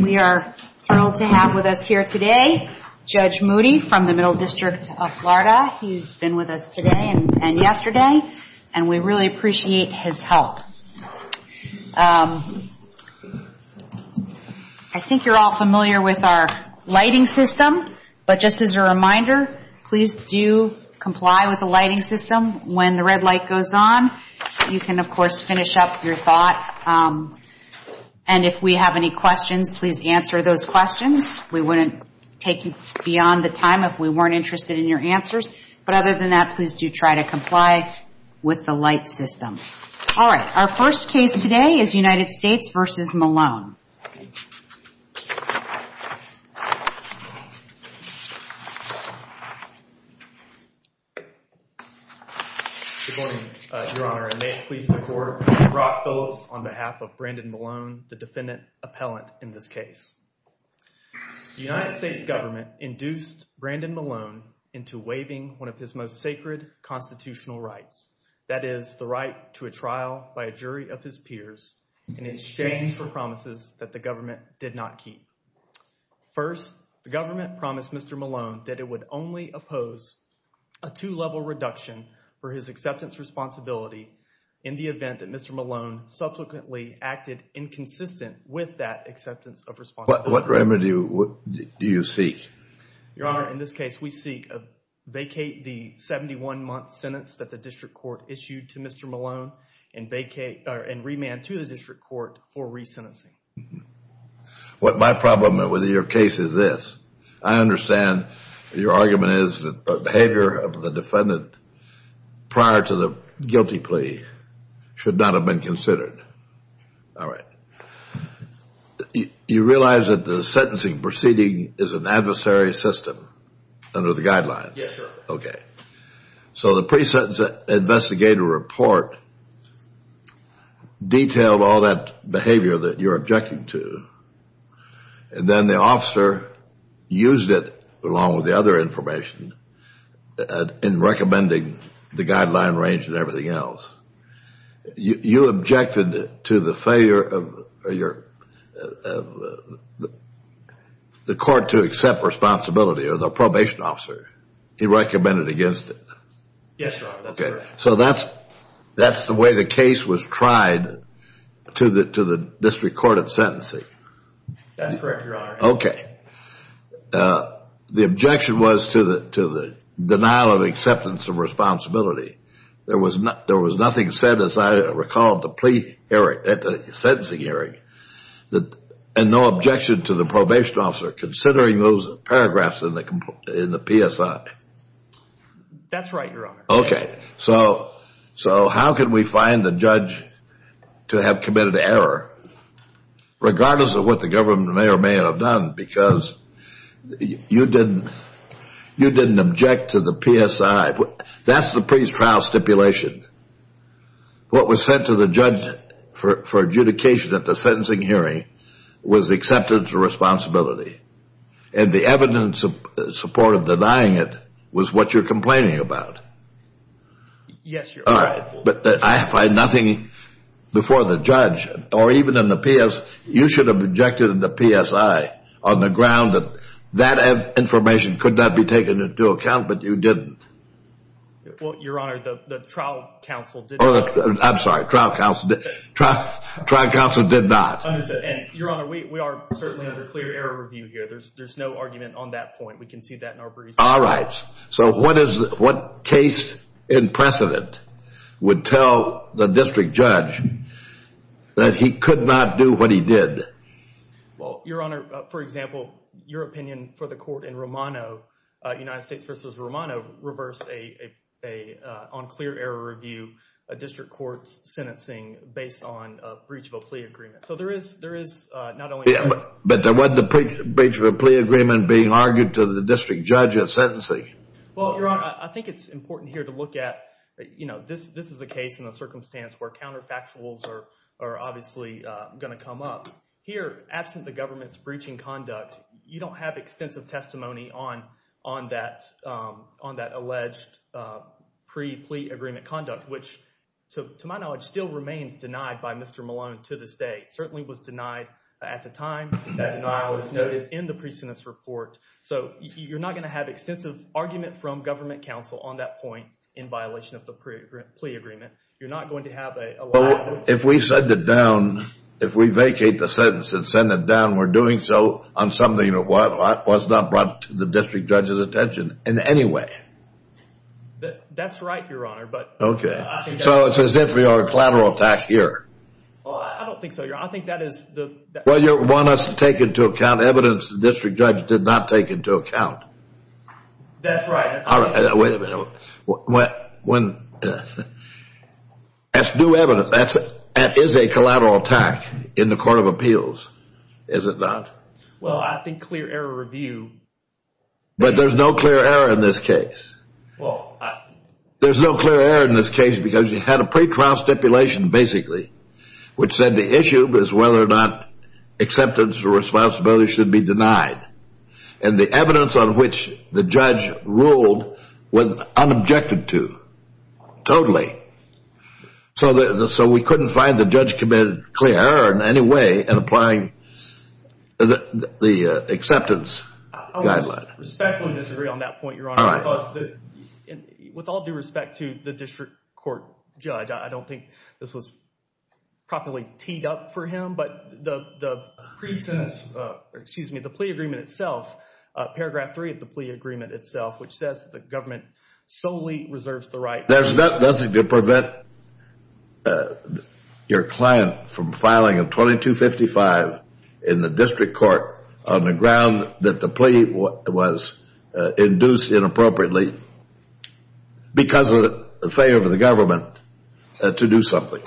We are thrilled to have with us here today Judge Moody from the Middle District of Florida. He's been with us today and yesterday and we really appreciate his help. I think you're all familiar with our lighting system, but just as a reminder, please do comply with the lighting system when the red light goes on. You can of course finish up your thought. And if we have any questions, please answer those questions. We wouldn't take beyond the time if we weren't interested in your answers. But other than that, please do try to comply with the light system. All right, our first case today is United States v. Malone. Robert Phillips Good morning, Your Honor, and may it please the Court, I'm Rob Phillips on behalf of Brandon Malone, the defendant appellant in this case. The United States government induced Brandon Malone into waiving one of his most sacred constitutional rights, that is the right to a trial by a jury of his peers in exchange for promises that the government did not keep. First, the government promised Mr. Malone that it would only oppose a two-level reduction for his acceptance responsibility in the event that Mr. Malone subsequently acted inconsistent with that acceptance of responsibility. What remedy do you seek? Your Honor, in this case, we seek to vacate the 71-month sentence that the district court issued to Mr. Malone and remand to the district court for resentencing. My problem with your case is this. I understand your argument is that the behavior of the defendant prior to the guilty plea should not have been considered. All right. You realize that the sentencing proceeding is an adversary system under the guidelines? Yes, sir. Okay. So the pre-sentence investigator report detailed all that behavior that you're objecting to, and then the officer used it along with the other information in recommending the guideline range and everything else. You objected to the failure of the court to accept responsibility or the probation officer. He recommended against it. Yes, sir. So that's the way the case was tried to the district court of sentencing. That's correct, Your Honor. Okay. The objection was to the denial of acceptance of responsibility. There was nothing said, as I recall, at the sentencing hearing, and no objection to the probation officer, considering those paragraphs in the PSI. That's right, Your Honor. Okay. So how can we find the judge to have committed error, regardless of what the government may or may not have done, because you didn't object to the PSI. That's the pre-trial stipulation. What was sent to the judge for adjudication at the sentencing hearing was accepted as a responsibility, and the evidence in support of denying it was what you're complaining about. Yes, Your Honor. All right. But I find nothing before the judge, or even in the PS, you should have objected in the PSI on the ground that that information could not be taken into account, but you didn't. Well, Your Honor, the trial counsel did not. I'm sorry. Trial counsel did not. Understood. And, Your Honor, we are certainly under clear error review here. There's no argument on that point. We can see that in our briefs. All right. So what case in precedent would tell the district judge that he could not do what he did? Well, Your Honor, for example, your opinion for the court in Romano, United States v. Romano reversed on clear error review a district court's sentencing based on a breach of a plea agreement. So there is not only this. But there wasn't a breach of a plea agreement being argued to the district judge at sentencing. Well, Your Honor, I think it's important here to look at, you know, this is a case in a circumstance where counterfactuals are obviously going to come up. Here, absent the government's breaching conduct, you don't have extensive testimony on that alleged pre-plea agreement conduct, which, to my knowledge, still remains denied by Mr. Malone to this day. It certainly was denied at the time that denial was noted in the precedent's report. So you're not going to have extensive argument from government counsel on that point in violation of the pre-plea agreement. You're not going to have a... Well, if we send it down, if we vacate the sentence and send it down, we're doing so on something that was not brought to the district judge's attention in any way. That's right, Your Honor, but... Okay. So it's as if we are a collateral attack here. I don't think so, Your Honor. I think that is the... Well, you want us to take into account evidence the district judge did not take into account. That's right. Wait a minute. When... That's new evidence. That is a collateral attack in the Court of Appeals, is it not? Well, I think clear error review... But there's no clear error in this case. There's no clear error in this case because you had a pretrial stipulation, basically, which said the issue was whether or not acceptance or responsibility should be denied. And the evidence on which the judge ruled was unobjected to, totally. So we couldn't find the judge committed clear error in any way in applying the acceptance guideline. I would respectfully disagree on that point, Your Honor, because with all due respect to the district court judge, I don't think this was properly teed up for him, but the pre-sentence... Excuse me, the plea agreement itself, paragraph 3 of the plea agreement itself, which says that the government solely reserves the right... There's nothing to prevent your client from filing a 2255 in the district court on the ground that the plea was induced inappropriately because of the favor of the government to do something.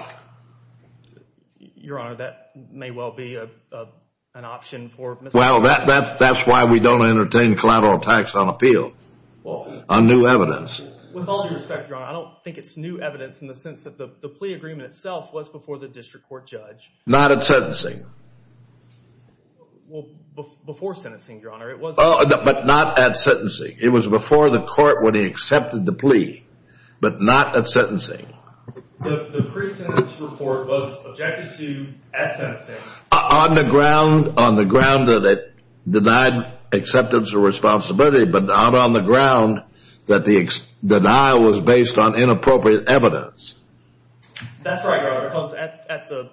Your Honor, that may well be an option for... Well, that's why we don't entertain collateral tax on appeal, on new evidence. With all due respect, Your Honor, I don't think it's new evidence in the sense that the plea agreement itself was before the district court judge. Not at sentencing. Well, before sentencing, Your Honor, it was... But not at sentencing. It was before the court when he accepted the plea, but not at sentencing. The pre-sentence report was subjected to at sentencing... On the ground that it denied acceptance or responsibility, but not on the ground that the denial was based on inappropriate evidence. That's right, Your Honor, because at the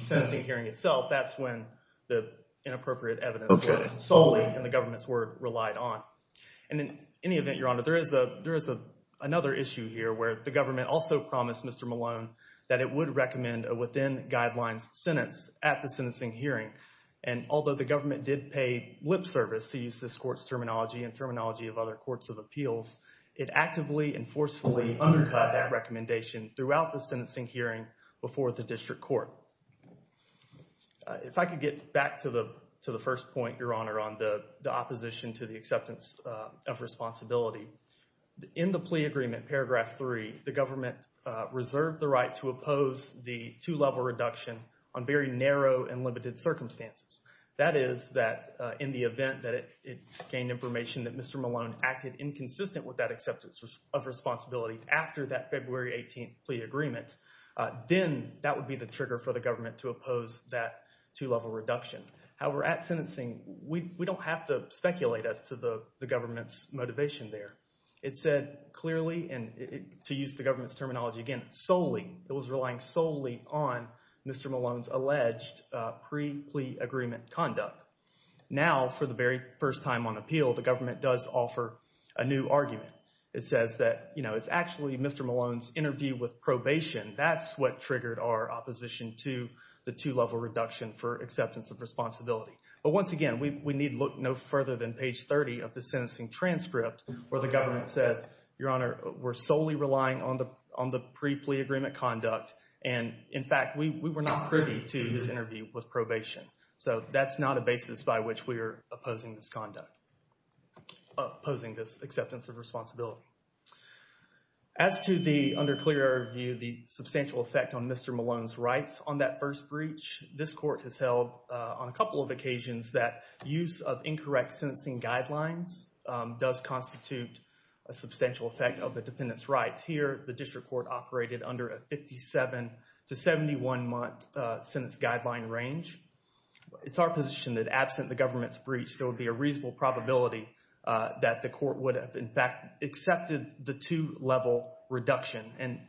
sentencing hearing itself, that's when the inappropriate evidence was solely in the government's word relied on. And in any event, Your Honor, there is another issue here where the government also promised Mr. Malone that it would recommend a within guidelines sentence at the sentencing hearing. And although the government did pay lip service to use this court's terminology and terminology of other courts of appeals, it actively and forcefully undercut that recommendation throughout the sentencing hearing before the district court. So, if I could get back to the first point, Your Honor, on the opposition to the acceptance of responsibility. In the plea agreement, paragraph 3, the government reserved the right to oppose the two-level reduction on very narrow and limited circumstances. That is that in the event that it gained information that Mr. Malone acted inconsistent with that acceptance of responsibility after that February 18th plea agreement, then that would be the time for the government to oppose that two-level reduction. However, at sentencing, we don't have to speculate as to the government's motivation there. It said clearly, and to use the government's terminology again, solely, it was relying solely on Mr. Malone's alleged pre-plea agreement conduct. Now, for the very first time on appeal, the government does offer a new argument. It says that, you know, it's actually Mr. That's what triggered our opposition to the two-level reduction for acceptance of responsibility. But once again, we need look no further than page 30 of the sentencing transcript where the government says, Your Honor, we're solely relying on the pre-plea agreement conduct and in fact, we were not privy to this interview with probation. So, that's not a basis by which we are opposing this conduct, opposing this acceptance of responsibility. As to the under clear view, the substantial effect on Mr. Malone's rights on that first breach, this court has held on a couple of occasions that use of incorrect sentencing guidelines does constitute a substantial effect of the defendant's rights. Here, the district court operated under a 57 to 71 month sentence guideline range. It's our position that absent the government's breach, there would be a reasonable probability that the court would have, in fact, accepted the two-level reduction. And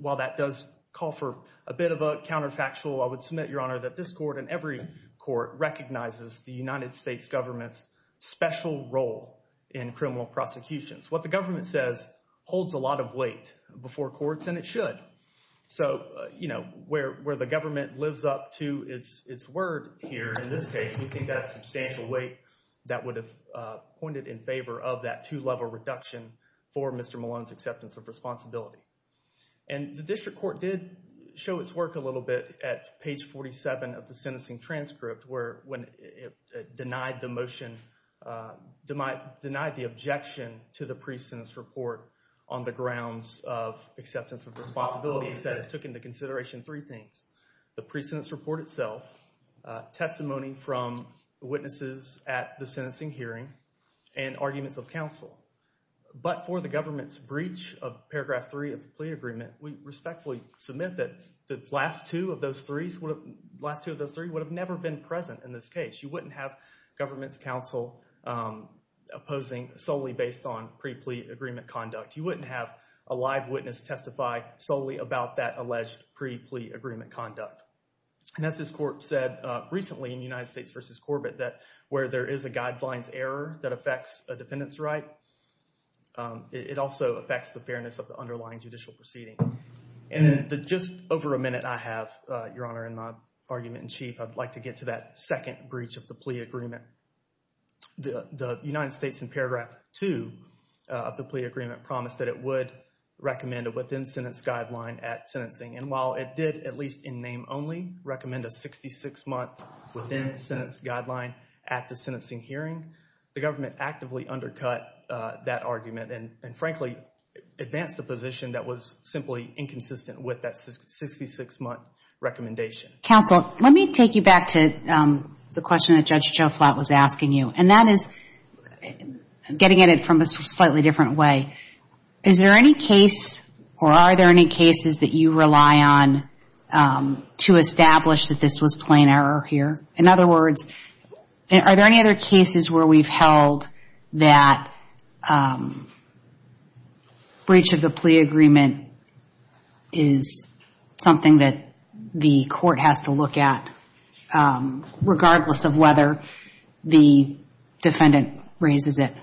while that does call for a bit of a counterfactual, I would submit, Your Honor, that this court and every court recognizes the United States government's special role in criminal prosecutions. What the government says holds a lot of weight before courts and it should. So, you know, where the government lives up to its word here, in this case, we think that's substantial weight that would have pointed in favor of that two-level reduction for Mr. Malone's acceptance of responsibility. And the district court did show its work a little bit at page 47 of the sentencing transcript where when it denied the motion, denied the objection to the pre-sentence report on the grounds of acceptance of responsibility, it said it took into consideration three things. The pre-sentence report itself, testimony from witnesses at the sentencing hearing, and arguments of counsel. But for the government's breach of paragraph three of the plea agreement, we respectfully submit that the last two of those threes would have never been present in this case. You wouldn't have government's counsel opposing solely based on pre-plea agreement conduct. You wouldn't have a live witness testify solely about that alleged pre-plea agreement conduct. And as this court said recently in United States v. Corbett that where there is a guidelines error that affects a defendant's right, it also affects the fairness of the underlying judicial proceeding. And in the just over a minute I have, Your Honor, in my argument in chief, I'd like to get to that second breach of the plea agreement. The United States in paragraph two of the plea agreement promised that it would recommend a within-sentence guideline at sentencing. And while it did, at least in name only, recommend a 66-month within-sentence guideline at the sentencing hearing, the government actively undercut that argument and frankly advanced a position that was simply inconsistent with that 66-month recommendation. Counsel, let me take you back to the question that Judge Joe Flatt was asking you. And that or are there any cases that you rely on to establish that this was plain error here? In other words, are there any other cases where we've held that breach of the plea agreement is something that the court has to look at regardless of whether the defendant raises it?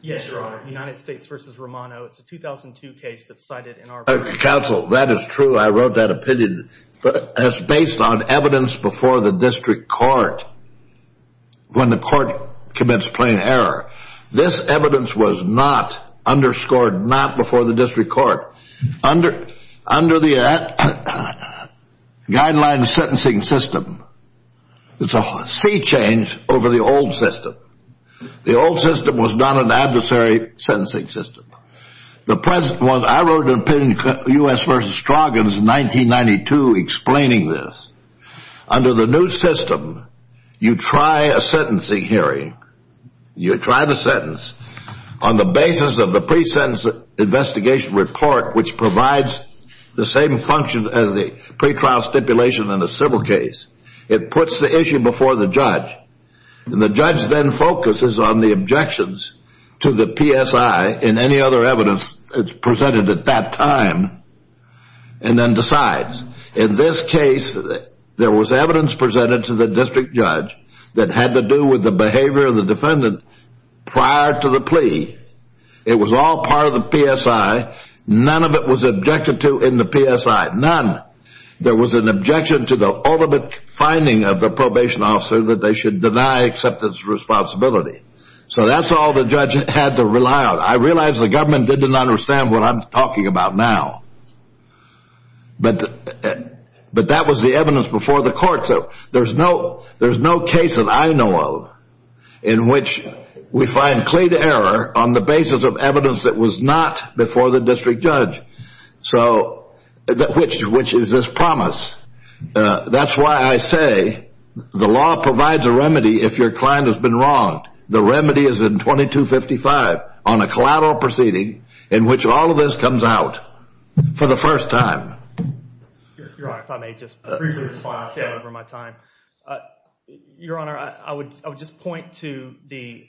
Yes, Your Honor. United States v. Romano. It's a 2002 case that's cited in our version. Counsel, that is true. I wrote that opinion. But it's based on evidence before the district court when the court commits plain error. This evidence was not underscored, not before the district court. Under the guideline sentencing system, it's a sea change over the old system. The old system was not an adversary sentencing system. I wrote an opinion in U.S. v. Stroggins in 1992 explaining this. Under the new system, you try a sentencing hearing. You try the sentence on the basis of the pre-sentence investigation report, which provides the same function as the pretrial stipulation in a civil case. It puts the issue before the judge. The judge then focuses on the objections to the PSI and any other evidence presented at that time and then decides. In this case, there was evidence presented to the district judge that had to do with the behavior of the defendant prior to the plea. It was all part of the PSI. None of it was objected to in the PSI. None. There was an objection to the ultimate finding of the probation officer that they should deny acceptance of responsibility. So that's all the judge had to rely on. I realize the government didn't understand what I'm talking about now. But that was the evidence before the court. There's no case that I know of in which we find clear error on the basis of evidence that was not before the district judge, which is this promise. That's why I say the law provides a remedy if your client has been wronged. The remedy is in 2255 on a collateral proceeding in which all of this comes out for the first time. Your Honor, if I may just respond to that over my time. Your Honor, I would just point to the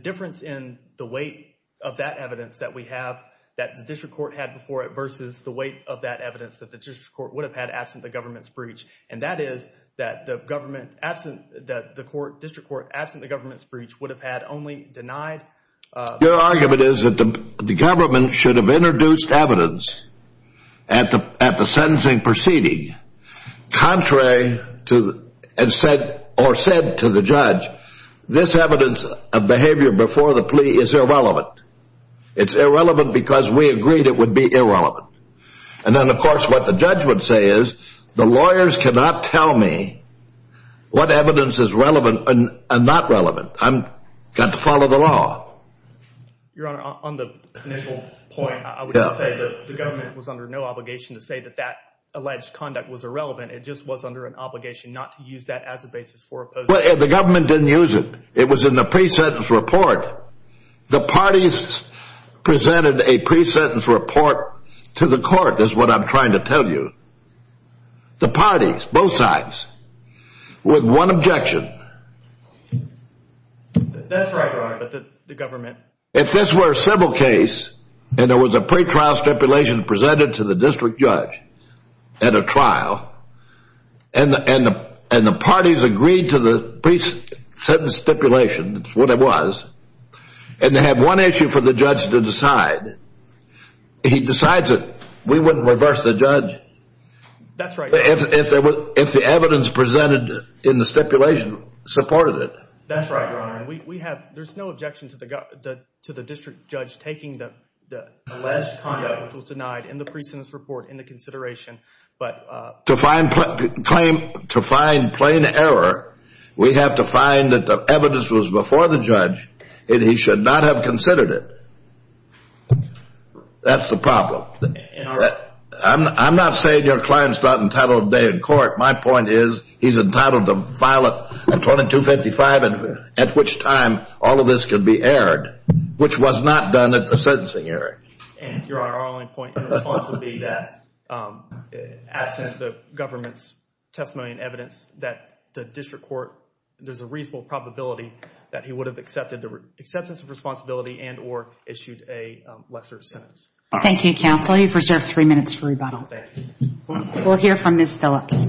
difference in the weight of that evidence that we have that the district court had before it versus the weight of that evidence that the district court would have had absent the government's breach. And that is that the district court, absent the government's breach, would have had only denied- Your argument is that the government should have introduced evidence at the sentencing proceeding or said to the judge, this evidence of behavior before the plea is irrelevant. It's irrelevant because we agreed it would be irrelevant. And then, of course, what the judge would say is the lawyers cannot tell me what evidence is relevant and not relevant. I've got to follow the law. Your Honor, on the initial point, I would just say that the government was under no obligation to say that the alleged conduct was irrelevant. It just was under an obligation not to use that as a basis for opposing- The government didn't use it. It was in the pre-sentence report. The parties presented a pre-sentence report to the court, is what I'm trying to tell you. The parties, both sides, with one objection. That's right, Your Honor, but the government- If this were a civil case and there was a pretrial stipulation presented to the district judge at a trial, and the parties agreed to the pre-sentence stipulation, that's what it was, and they had one issue for the judge to decide, he decides that we wouldn't reverse the judge- That's right, Your Honor. If the evidence presented in the stipulation supported it. That's right, Your Honor. There's no objection to the district judge taking the alleged conduct, which was denied in the pre-sentence report into consideration, but- To find plain error, we have to find that the evidence was before the judge, and he should not have considered it. That's the problem. I'm not saying your client's not entitled today in court. My point is, he's entitled to file a 2255, at which time all of this could be aired, which was not done at the sentencing area. Your Honor, our only point in response would be that, absent the government's testimony and evidence, that the district court, there's a reasonable probability that he would have accepted the acceptance of responsibility and or issued a lesser sentence. Thank you, counsel. You've reserved three minutes for rebuttal. Thank you. We'll hear from Ms. Phillips.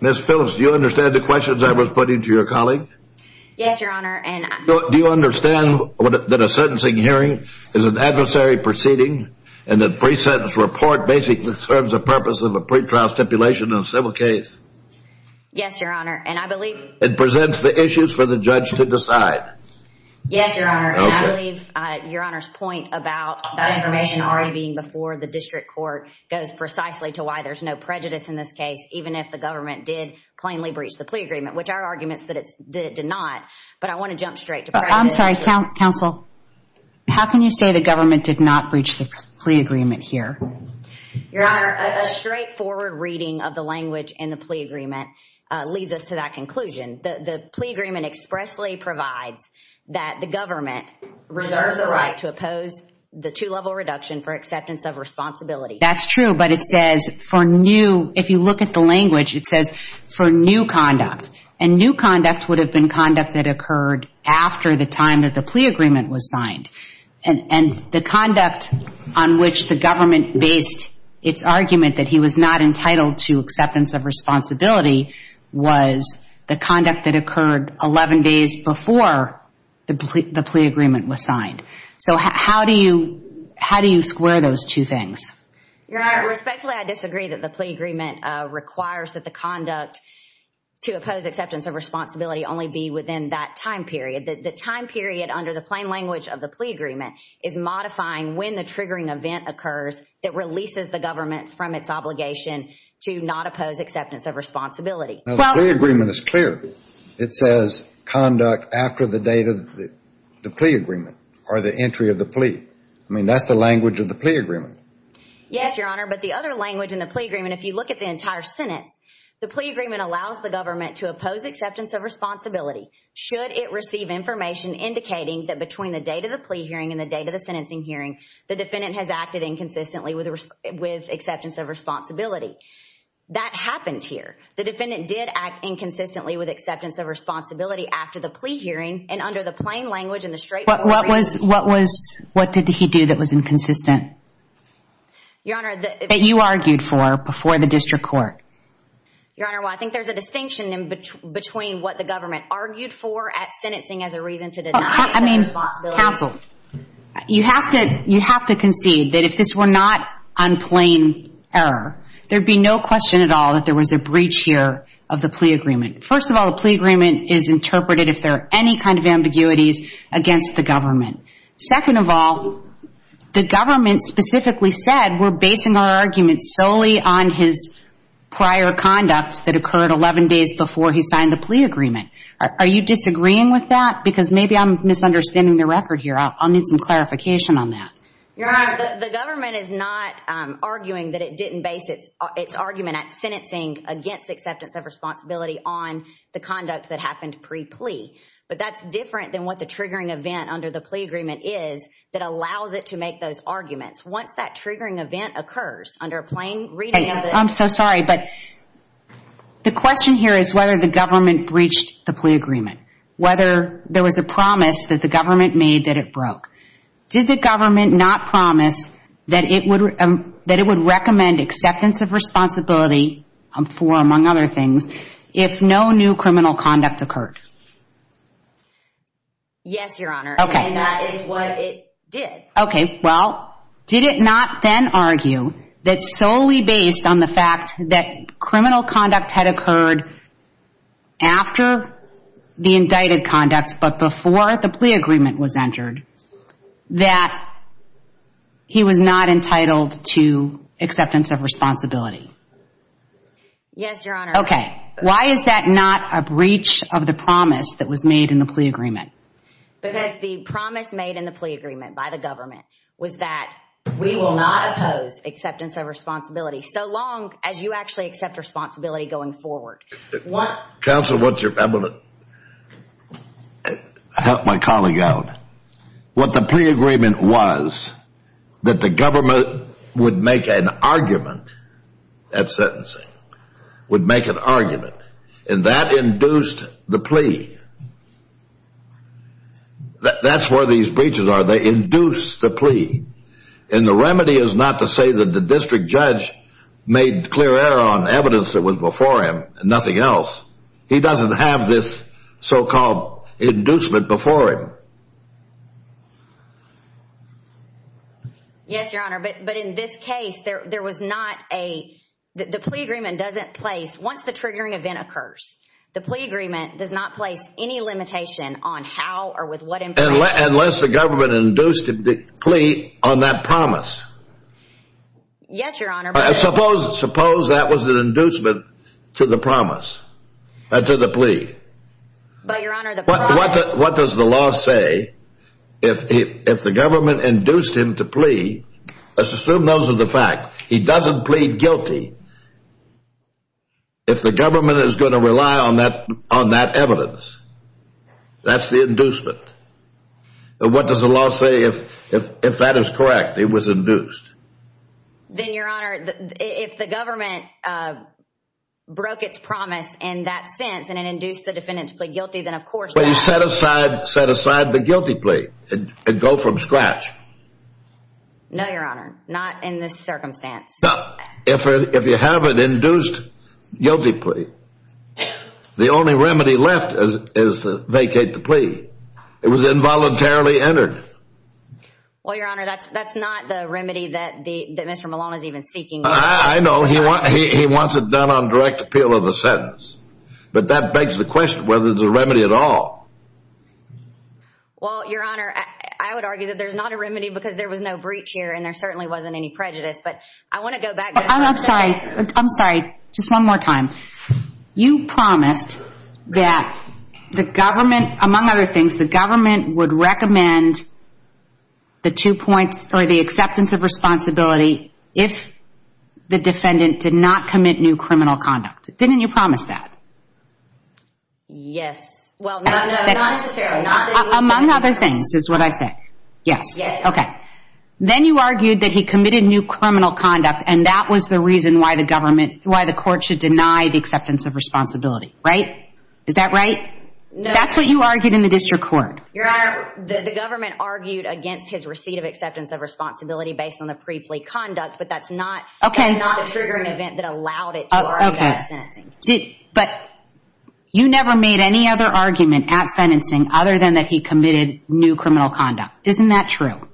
Ms. Phillips, do you understand the questions I was putting to your colleague? Yes, Your Honor, and- Do you understand that a sentencing hearing is an adversary proceeding, and that pre-sentence report basically serves the purpose of a pretrial stipulation in a civil case? Yes, Your Honor, and I believe- It presents the issues for the judge to decide. Yes, Your Honor, and I believe Your Honor's point about that information already being before the district court goes precisely to why there's no prejudice in this case, even if the government did plainly breach the plea agreement, which are arguments that it did not, but I want to jump straight to- I'm sorry, counsel. How can you say the government did not breach the plea agreement here? Your Honor, a straightforward reading of the language in the plea agreement leads us to that conclusion. The plea agreement expressly provides that the government reserves the right to oppose the two-level reduction for acceptance of responsibility. That's true, but it says, if you look at the language, it says, for new conduct, and new conduct would have been conduct that occurred after the time that the plea agreement was signed, and the conduct on which the government based its argument that he was not entitled to acceptance of responsibility was the conduct that occurred 11 days before the plea agreement was signed. How do you square those two things? Your Honor, respectfully, I disagree that the plea agreement requires that the conduct to oppose acceptance of responsibility only be within that time period. The time period under the plain language of the plea agreement is modifying when the triggering event occurs that releases the government from its obligation to not oppose acceptance of responsibility. Now, the plea agreement is clear. It says conduct after the date of the plea agreement or the entry of the plea. I mean, that's the language of the plea agreement. Yes, Your Honor, but the other language in the plea agreement, if you look at the entire sentence, the plea agreement allows the government to oppose acceptance of responsibility should it receive information indicating that between the date of the plea hearing and the date of the plea hearing, the defendant did act inconsistently with acceptance of responsibility. That happened here. The defendant did act inconsistently with acceptance of responsibility after the plea hearing, and under the plain language and the straightforward... What did he do that was inconsistent that you argued for before the district court? Your Honor, well, I think there's a distinction between what the government argued for at sentencing as a reason to deny acceptance of responsibility... ...and not on plain error. There'd be no question at all that there was a breach here of the plea agreement. First of all, the plea agreement is interpreted if there are any kind of ambiguities against the government. Second of all, the government specifically said we're basing our argument solely on his prior conduct that occurred 11 days before he signed the plea agreement. Are you disagreeing with that? Because maybe I'm misunderstanding the record here. I'll need some clarification on that. Your Honor, the government is not arguing that it didn't base its argument at sentencing against acceptance of responsibility on the conduct that happened pre-plea. But that's different than what the triggering event under the plea agreement is that allows it to make those arguments. Once that triggering event occurs under a plain reading of the... I'm so sorry, but the question here is whether the government breached the plea agreement. Whether there was a promise that the government made that it broke. Did the government not promise that it would recommend acceptance of responsibility for, among other things, if no new criminal conduct occurred? Yes, Your Honor. And that is what it did. Okay. Well, did it not then argue that solely based on the fact that criminal conduct had occurred after the indicted conduct, but before the plea agreement was entered, that he was not entitled to acceptance of responsibility? Yes, Your Honor. Okay. Why is that not a breach of the promise that was made in the plea agreement? Because the promise made in the plea agreement by the government was that we will not oppose acceptance of responsibility so long as you actually accept responsibility going forward. Counsel, I want to help my colleague out. What the plea agreement was that the government would make an argument at sentencing, would make an argument, and that induced the plea. That's where these breaches are. They induce the plea. And the remedy is not to say that the district judge made clear error on evidence that was before him and nothing else. He doesn't have this so-called inducement before him. Yes, Your Honor. But in this case, there was not a... The plea agreement doesn't place... It doesn't place any limitation on how or with what information... Unless the government induced the plea on that promise. Yes, Your Honor, but... Suppose that was an inducement to the promise, to the plea. But, Your Honor, the promise... What does the law say if the government induced him to plea? Let's assume those are the facts. He doesn't plead guilty. If the government is going to rely on that evidence, that's the inducement. What does the law say if that is correct, it was induced? Then, Your Honor, if the government broke its promise in that sense and it induced the defendant to plead guilty, then of course... But you set aside the guilty plea and go from scratch. No, Your Honor, not in this circumstance. If you have an induced guilty plea, the only remedy left is to vacate the plea. It was involuntarily entered. Well, Your Honor, that's not the remedy that Mr. Malone is even seeking. I know. He wants it done on direct appeal of the sentence, but that begs the question whether it's a remedy at all. Well, Your Honor, I would argue that there's not a remedy because there was no breach here and there certainly wasn't any prejudice. But I want to go back... I'm sorry. I'm sorry. Just one more time. You promised that the government, among other things, the government would recommend the two points or the acceptance of responsibility if the defendant did not commit new criminal conduct. Didn't you promise that? Yes. Well, no, not necessarily. Among other things is what I said. Yes. Yes, Your Honor. Then you argued that he committed new criminal conduct and that was the reason why the government, why the court should deny the acceptance of responsibility. Right? Is that right? No, Your Honor. That's what you argued in the district court. Your Honor, the government argued against his receipt of acceptance of responsibility based on the pre-plea conduct, but that's not... Okay. That's not the triggering event that allowed it to argue that as sentencing. But you never made any other argument at sentencing other than that he committed new criminal conduct. Isn't that true?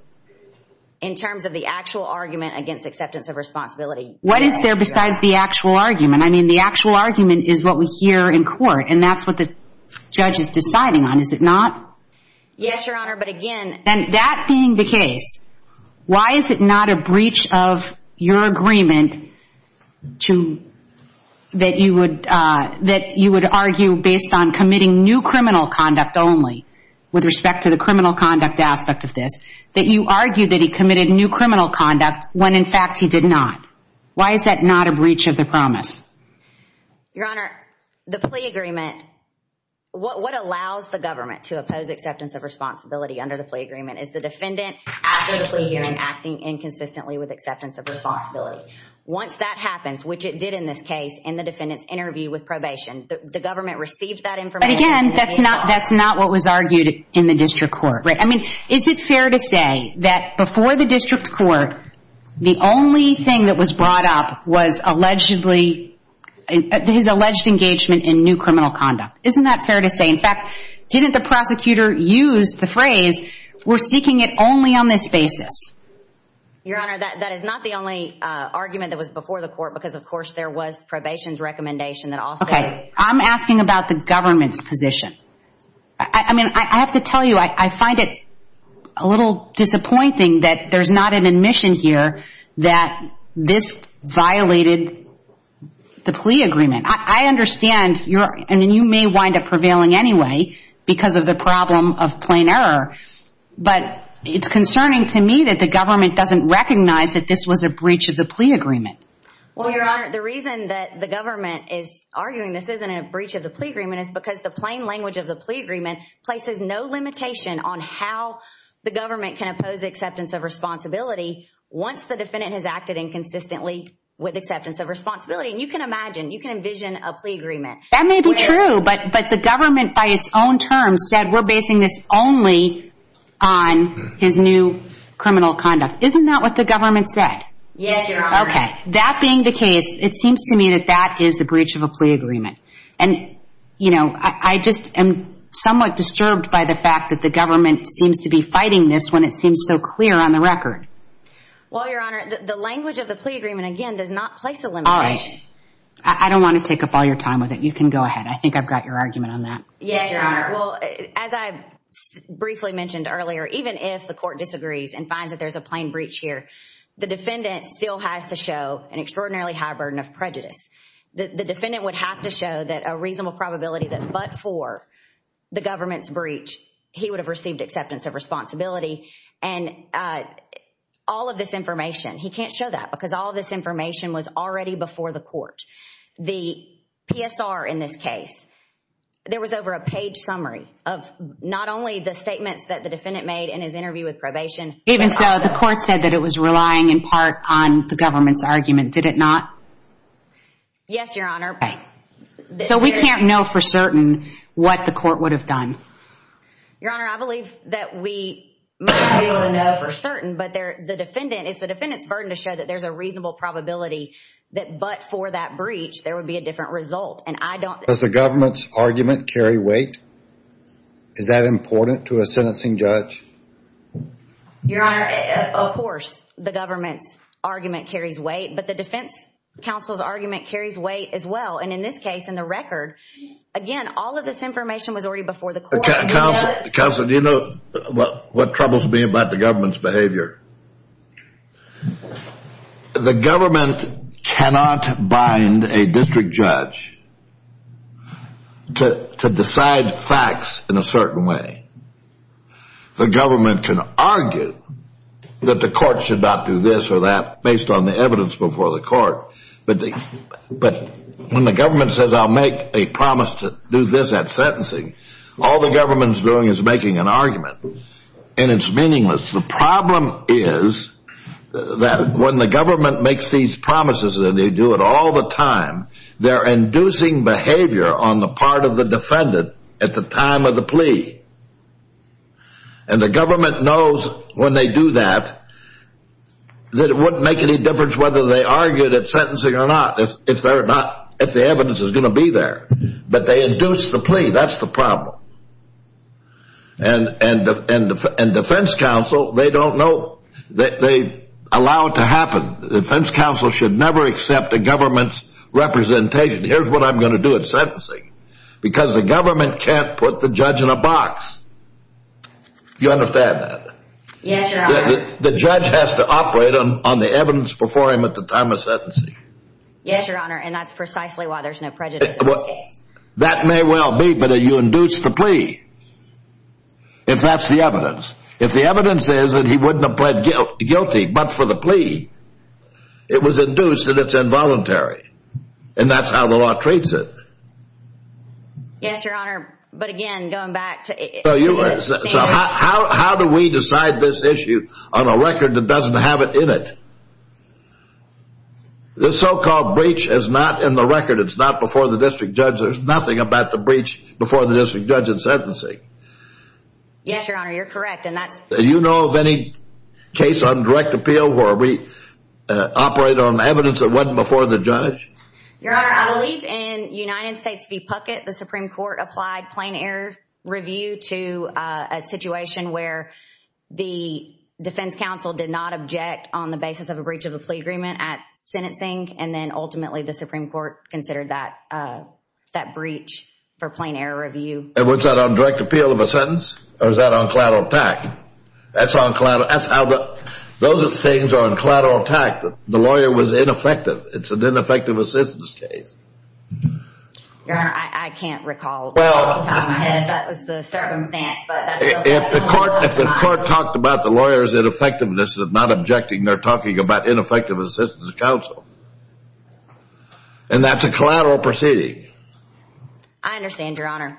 In terms of the actual argument against acceptance of responsibility... What is there besides the actual argument? I mean, the actual argument is what we hear in court and that's what the judge is deciding on. Is it not? Yes, Your Honor, but again... And that being the case, why is it not a breach of your agreement that you would argue based on committing new criminal conduct only with respect to the criminal conduct aspect of this, that you argued that he committed new criminal conduct when in fact he did not? Why is that not a breach of the promise? Your Honor, the plea agreement, what allows the government to oppose acceptance of responsibility under the plea agreement is the defendant actively pleading and acting inconsistently with acceptance of responsibility. Once that happens, which it did in this case in the defendant's interview with probation, the government received that information... But again, that's not what was argued in the district court. I mean, is it fair to say that before the district court, the only thing that was brought up was allegedly his alleged engagement in new criminal conduct? Isn't that fair to say? In fact, didn't the prosecutor use the phrase, we're seeking it only on this basis? Your Honor, that is not the only argument that was before the court because of course there was probation's recommendation that also... I mean, I have to tell you, I find it a little disappointing that there's not an admission here that this violated the plea agreement. I understand, I mean, you may wind up prevailing anyway because of the problem of plain error, but it's concerning to me that the government doesn't recognize that this was a breach of the plea agreement. Well, Your Honor, the reason that the government is arguing this isn't a breach of the plea agreement is because the plain language of the plea agreement places no limitation on how the government can oppose acceptance of responsibility once the defendant has acted inconsistently with acceptance of responsibility. And you can imagine, you can envision a plea agreement. That may be true, but the government by its own terms said we're basing this only on his new criminal conduct. Isn't that what the government said? Yes, Your Honor. Okay. That being the case, it seems to me that that is the breach of a plea agreement. And, you know, I just am somewhat disturbed by the fact that the government seems to be fighting this when it seems so clear on the record. Well, Your Honor, the language of the plea agreement, again, does not place a limitation. All right. I don't want to take up all your time with it. You can go ahead. I think I've got your argument on that. Yes, Your Honor. Well, as I briefly mentioned earlier, even if the court disagrees and finds that there's a plain breach here, the defendant still has to show an extraordinarily high burden of prejudice. The defendant would have to show that a reasonable probability that but for the government's breach, he would have received acceptance of responsibility. And all of this information, he can't show that because all of this information was already before the court. The PSR in this case, there was over a page summary of not only the statements that the defendant made in his interview with probation. Even so, the court said that it was relying in part on the government's argument. Did it not? Yes, Your Honor. So we can't know for certain what the court would have done. Your Honor, I believe that we might be able to know for certain, but the defendant, it's the defendant's burden to show that there's a reasonable probability that but for that breach, there would be a different result. Does the government's argument carry weight? Is that important to a sentencing judge? Your Honor, of course, the government's argument carries weight, but the defense counsel's argument carries weight as well. And in this case, in the record, again, all of this information was already before the court. Counselor, do you know what troubles me about the government's behavior? The government cannot bind a district judge to decide facts in a certain way. The government can argue that the court should not do this or that based on the evidence before the court. But when the government says, I'll make a promise to do this at sentencing, all the government's doing is making an argument. And it's meaningless. The problem is that when the government makes these promises and they do it all the time, they're inducing behavior on the part of the defendant at the time of the plea. And the government knows when they do that, that it wouldn't make any difference whether they argued at sentencing or not, if the evidence is going to be there. But they induce the plea. That's the problem. And defense counsel, they don't know. They allow it to happen. Defense counsel should never accept a government's representation. Here's what I'm going to do at sentencing. Because the government can't put the judge in a box. Do you understand that? Yes, Your Honor. The judge has to operate on the evidence before him at the time of sentencing. Yes, Your Honor, and that's precisely why there's no prejudice in this case. That may well be, but you induce the plea. If that's the evidence. If the evidence is that he wouldn't have pled guilty but for the plea, it was induced that it's involuntary. And that's how the law treats it. Yes, Your Honor, but again, going back to the standard. How do we decide this issue on a record that doesn't have it in it? The so-called breach is not in the record. It's not before the district judge. There's nothing about the breach before the district judge at sentencing. Yes, Your Honor, you're correct. Do you know of any case on direct appeal where we operate on evidence that wasn't before the judge? Your Honor, I believe in United States v. Puckett, the Supreme Court applied plain error review to a situation where the defense counsel did not object on the basis of a breach of a plea agreement at sentencing. And then ultimately the Supreme Court considered that breach for plain error review. And was that on direct appeal of a sentence? Or was that on collateral tax? That's on collateral. Those are the things on collateral tax that the lawyer was ineffective. It's an ineffective assistance case. Your Honor, I can't recall off the top of my head if that was the circumstance. If the court talked about the lawyer's ineffectiveness of not objecting, they're talking about ineffective assistance counsel. And that's a collateral proceeding. I understand, Your Honor.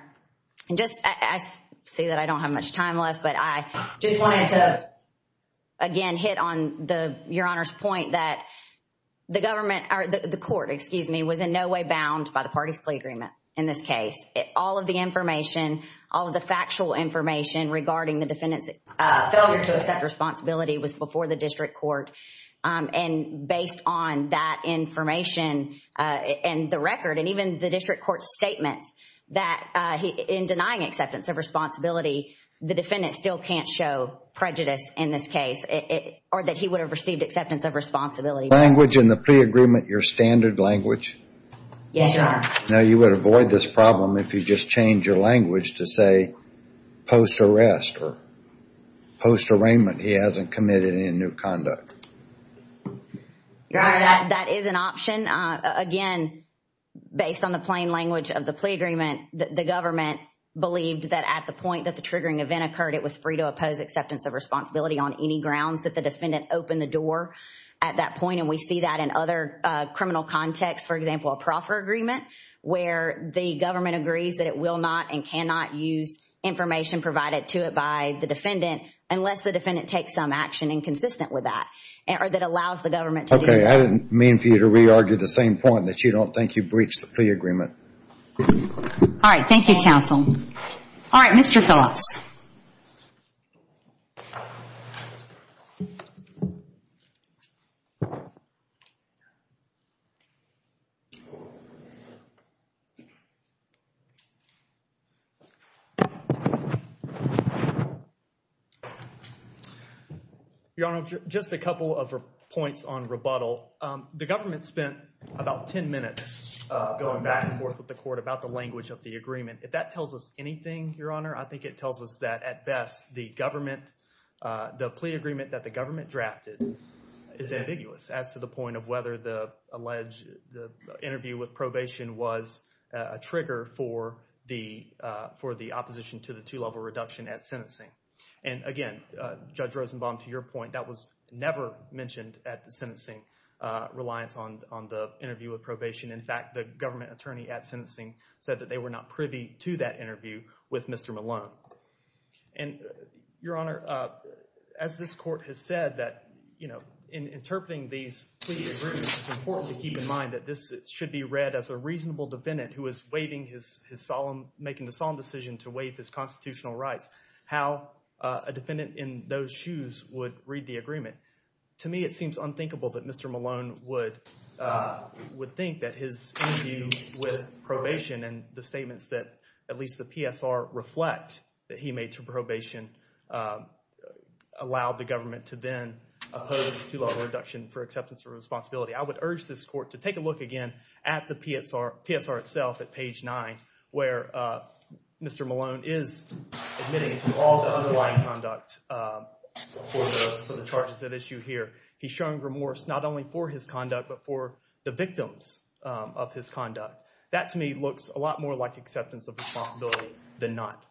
I see that I don't have much time left, but I just wanted to, again, hit on Your Honor's point that the court was in no way bound by the parties plea agreement in this case. All of the information, all of the factual information regarding the defendant's failure to accept responsibility was before the district court. And based on that information and the record and even the district court's statements that in denying acceptance of responsibility, the defendant still can't show prejudice in this case or that he would have received acceptance of responsibility. Is language in the plea agreement your standard language? Yes, Your Honor. Now, you would avoid this problem if you just change your language to say post arrest or post arraignment he hasn't committed any new conduct. Your Honor, that is an option. Again, based on the plain language of the plea agreement, the government believed that at the point that the triggering event occurred, it was free to oppose acceptance of responsibility on any grounds that the defendant opened the door at that point. And we see that in other criminal contexts. For example, a proffer agreement where the government agrees that it will not and cannot use information provided to it by the defendant unless the defendant takes some action inconsistent with that or that allows the government to do so. Okay. I didn't mean for you to re-argue the same point that you don't think you breached the plea agreement. All right. Thank you, counsel. All right. Mr. Phillips. Your Honor, just a couple of points on rebuttal. The government spent about 10 minutes going back and forth with the court about the language of the agreement. If that tells us anything, Your Honor, I think it tells us that at best the government, the plea agreement that the government drafted is ambiguous as to the point of whether the alleged interview with probation was a trigger for the opposition to the two-level reduction at sentencing. And again, Judge Rosenbaum, to your point, that was never mentioned at the sentencing reliance on the interview with probation. In fact, the government attorney at sentencing said that they were not privy to that interview with Mr. Malone. And, Your Honor, as this court has said that, you know, in interpreting these plea agreements, it's important to keep in mind that this should be read as a reasonable defendant who is waiving his solemn, making the solemn decision to waive his constitutional rights, how a defendant in those shoes would read the agreement. To me, it seems unthinkable that Mr. Malone would think that his interview with probation and the statements that at least the PSR reflect that he made to probation allowed the government to then oppose the two-level reduction for acceptance of responsibility. I would urge this court to take a look again at the PSR itself at page 9, where Mr. Malone is admitting to all the underlying conduct for the charges at issue here. He's showing remorse not only for his conduct but for the victims of his conduct. That, to me, looks a lot more like acceptance of responsibility than not.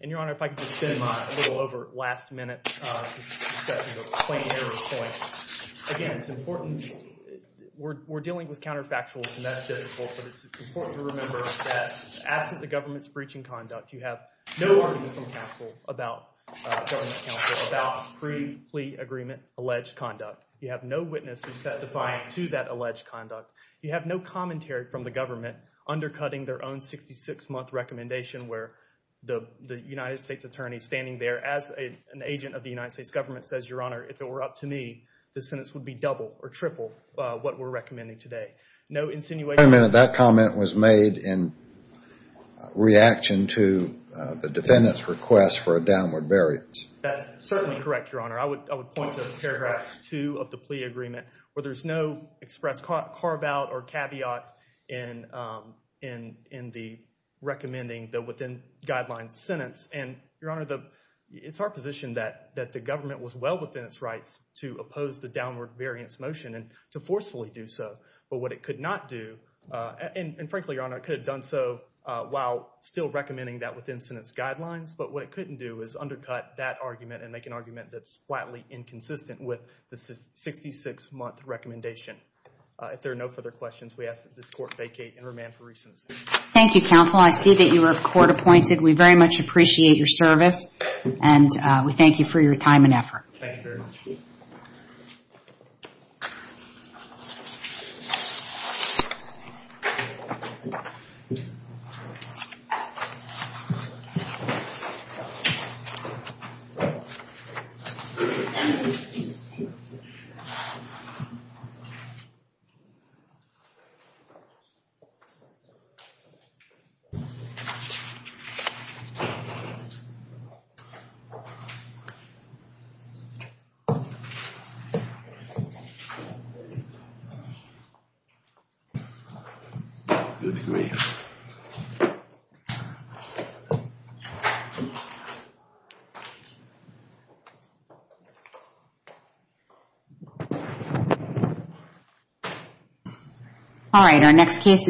And, Your Honor, if I could just spend my little over last-minute discussion of a plain error point. Again, it's important. We're dealing with counterfactuals, and that's difficult, but it's important to remember that as the government's breaching conduct, you have no argument from counsel about government counsel about pre-plea agreement alleged conduct. You have no witness who's testifying to that alleged conduct. You have no commentary from the government undercutting their own 66-month recommendation where the United States attorney standing there as an agent of the United States government says, Your Honor, if it were up to me, the sentence would be double or triple what we're recommending today. No insinuation. Wait a minute. That comment was made in reaction to the defendant's request for a downward variance. That's certainly correct, Your Honor. I would point to paragraph 2 of the plea agreement where there's no express carve-out or caveat in the recommending the within-guidelines sentence. And, Your Honor, it's our position that the government was well within its rights to oppose the downward variance motion and to forcefully do so, but what it could not do, and frankly, Your Honor, it could have done so while still recommending that within-sentence guidelines, but what it couldn't do is undercut that argument and make an argument that's flatly inconsistent with the 66-month recommendation. If there are no further questions, we ask that this court vacate and remand for recents. Thank you, counsel. I see that you are court-appointed. We very much appreciate your service, and we thank you for your time and effort. Thank you very much. Thank you. Thank you. Thank you. Thank you. Thank you. Thank you. Thank you. Thank you. Thank you. Thank you. Thank you. Thank you. Thank you. Thank you. Thank you.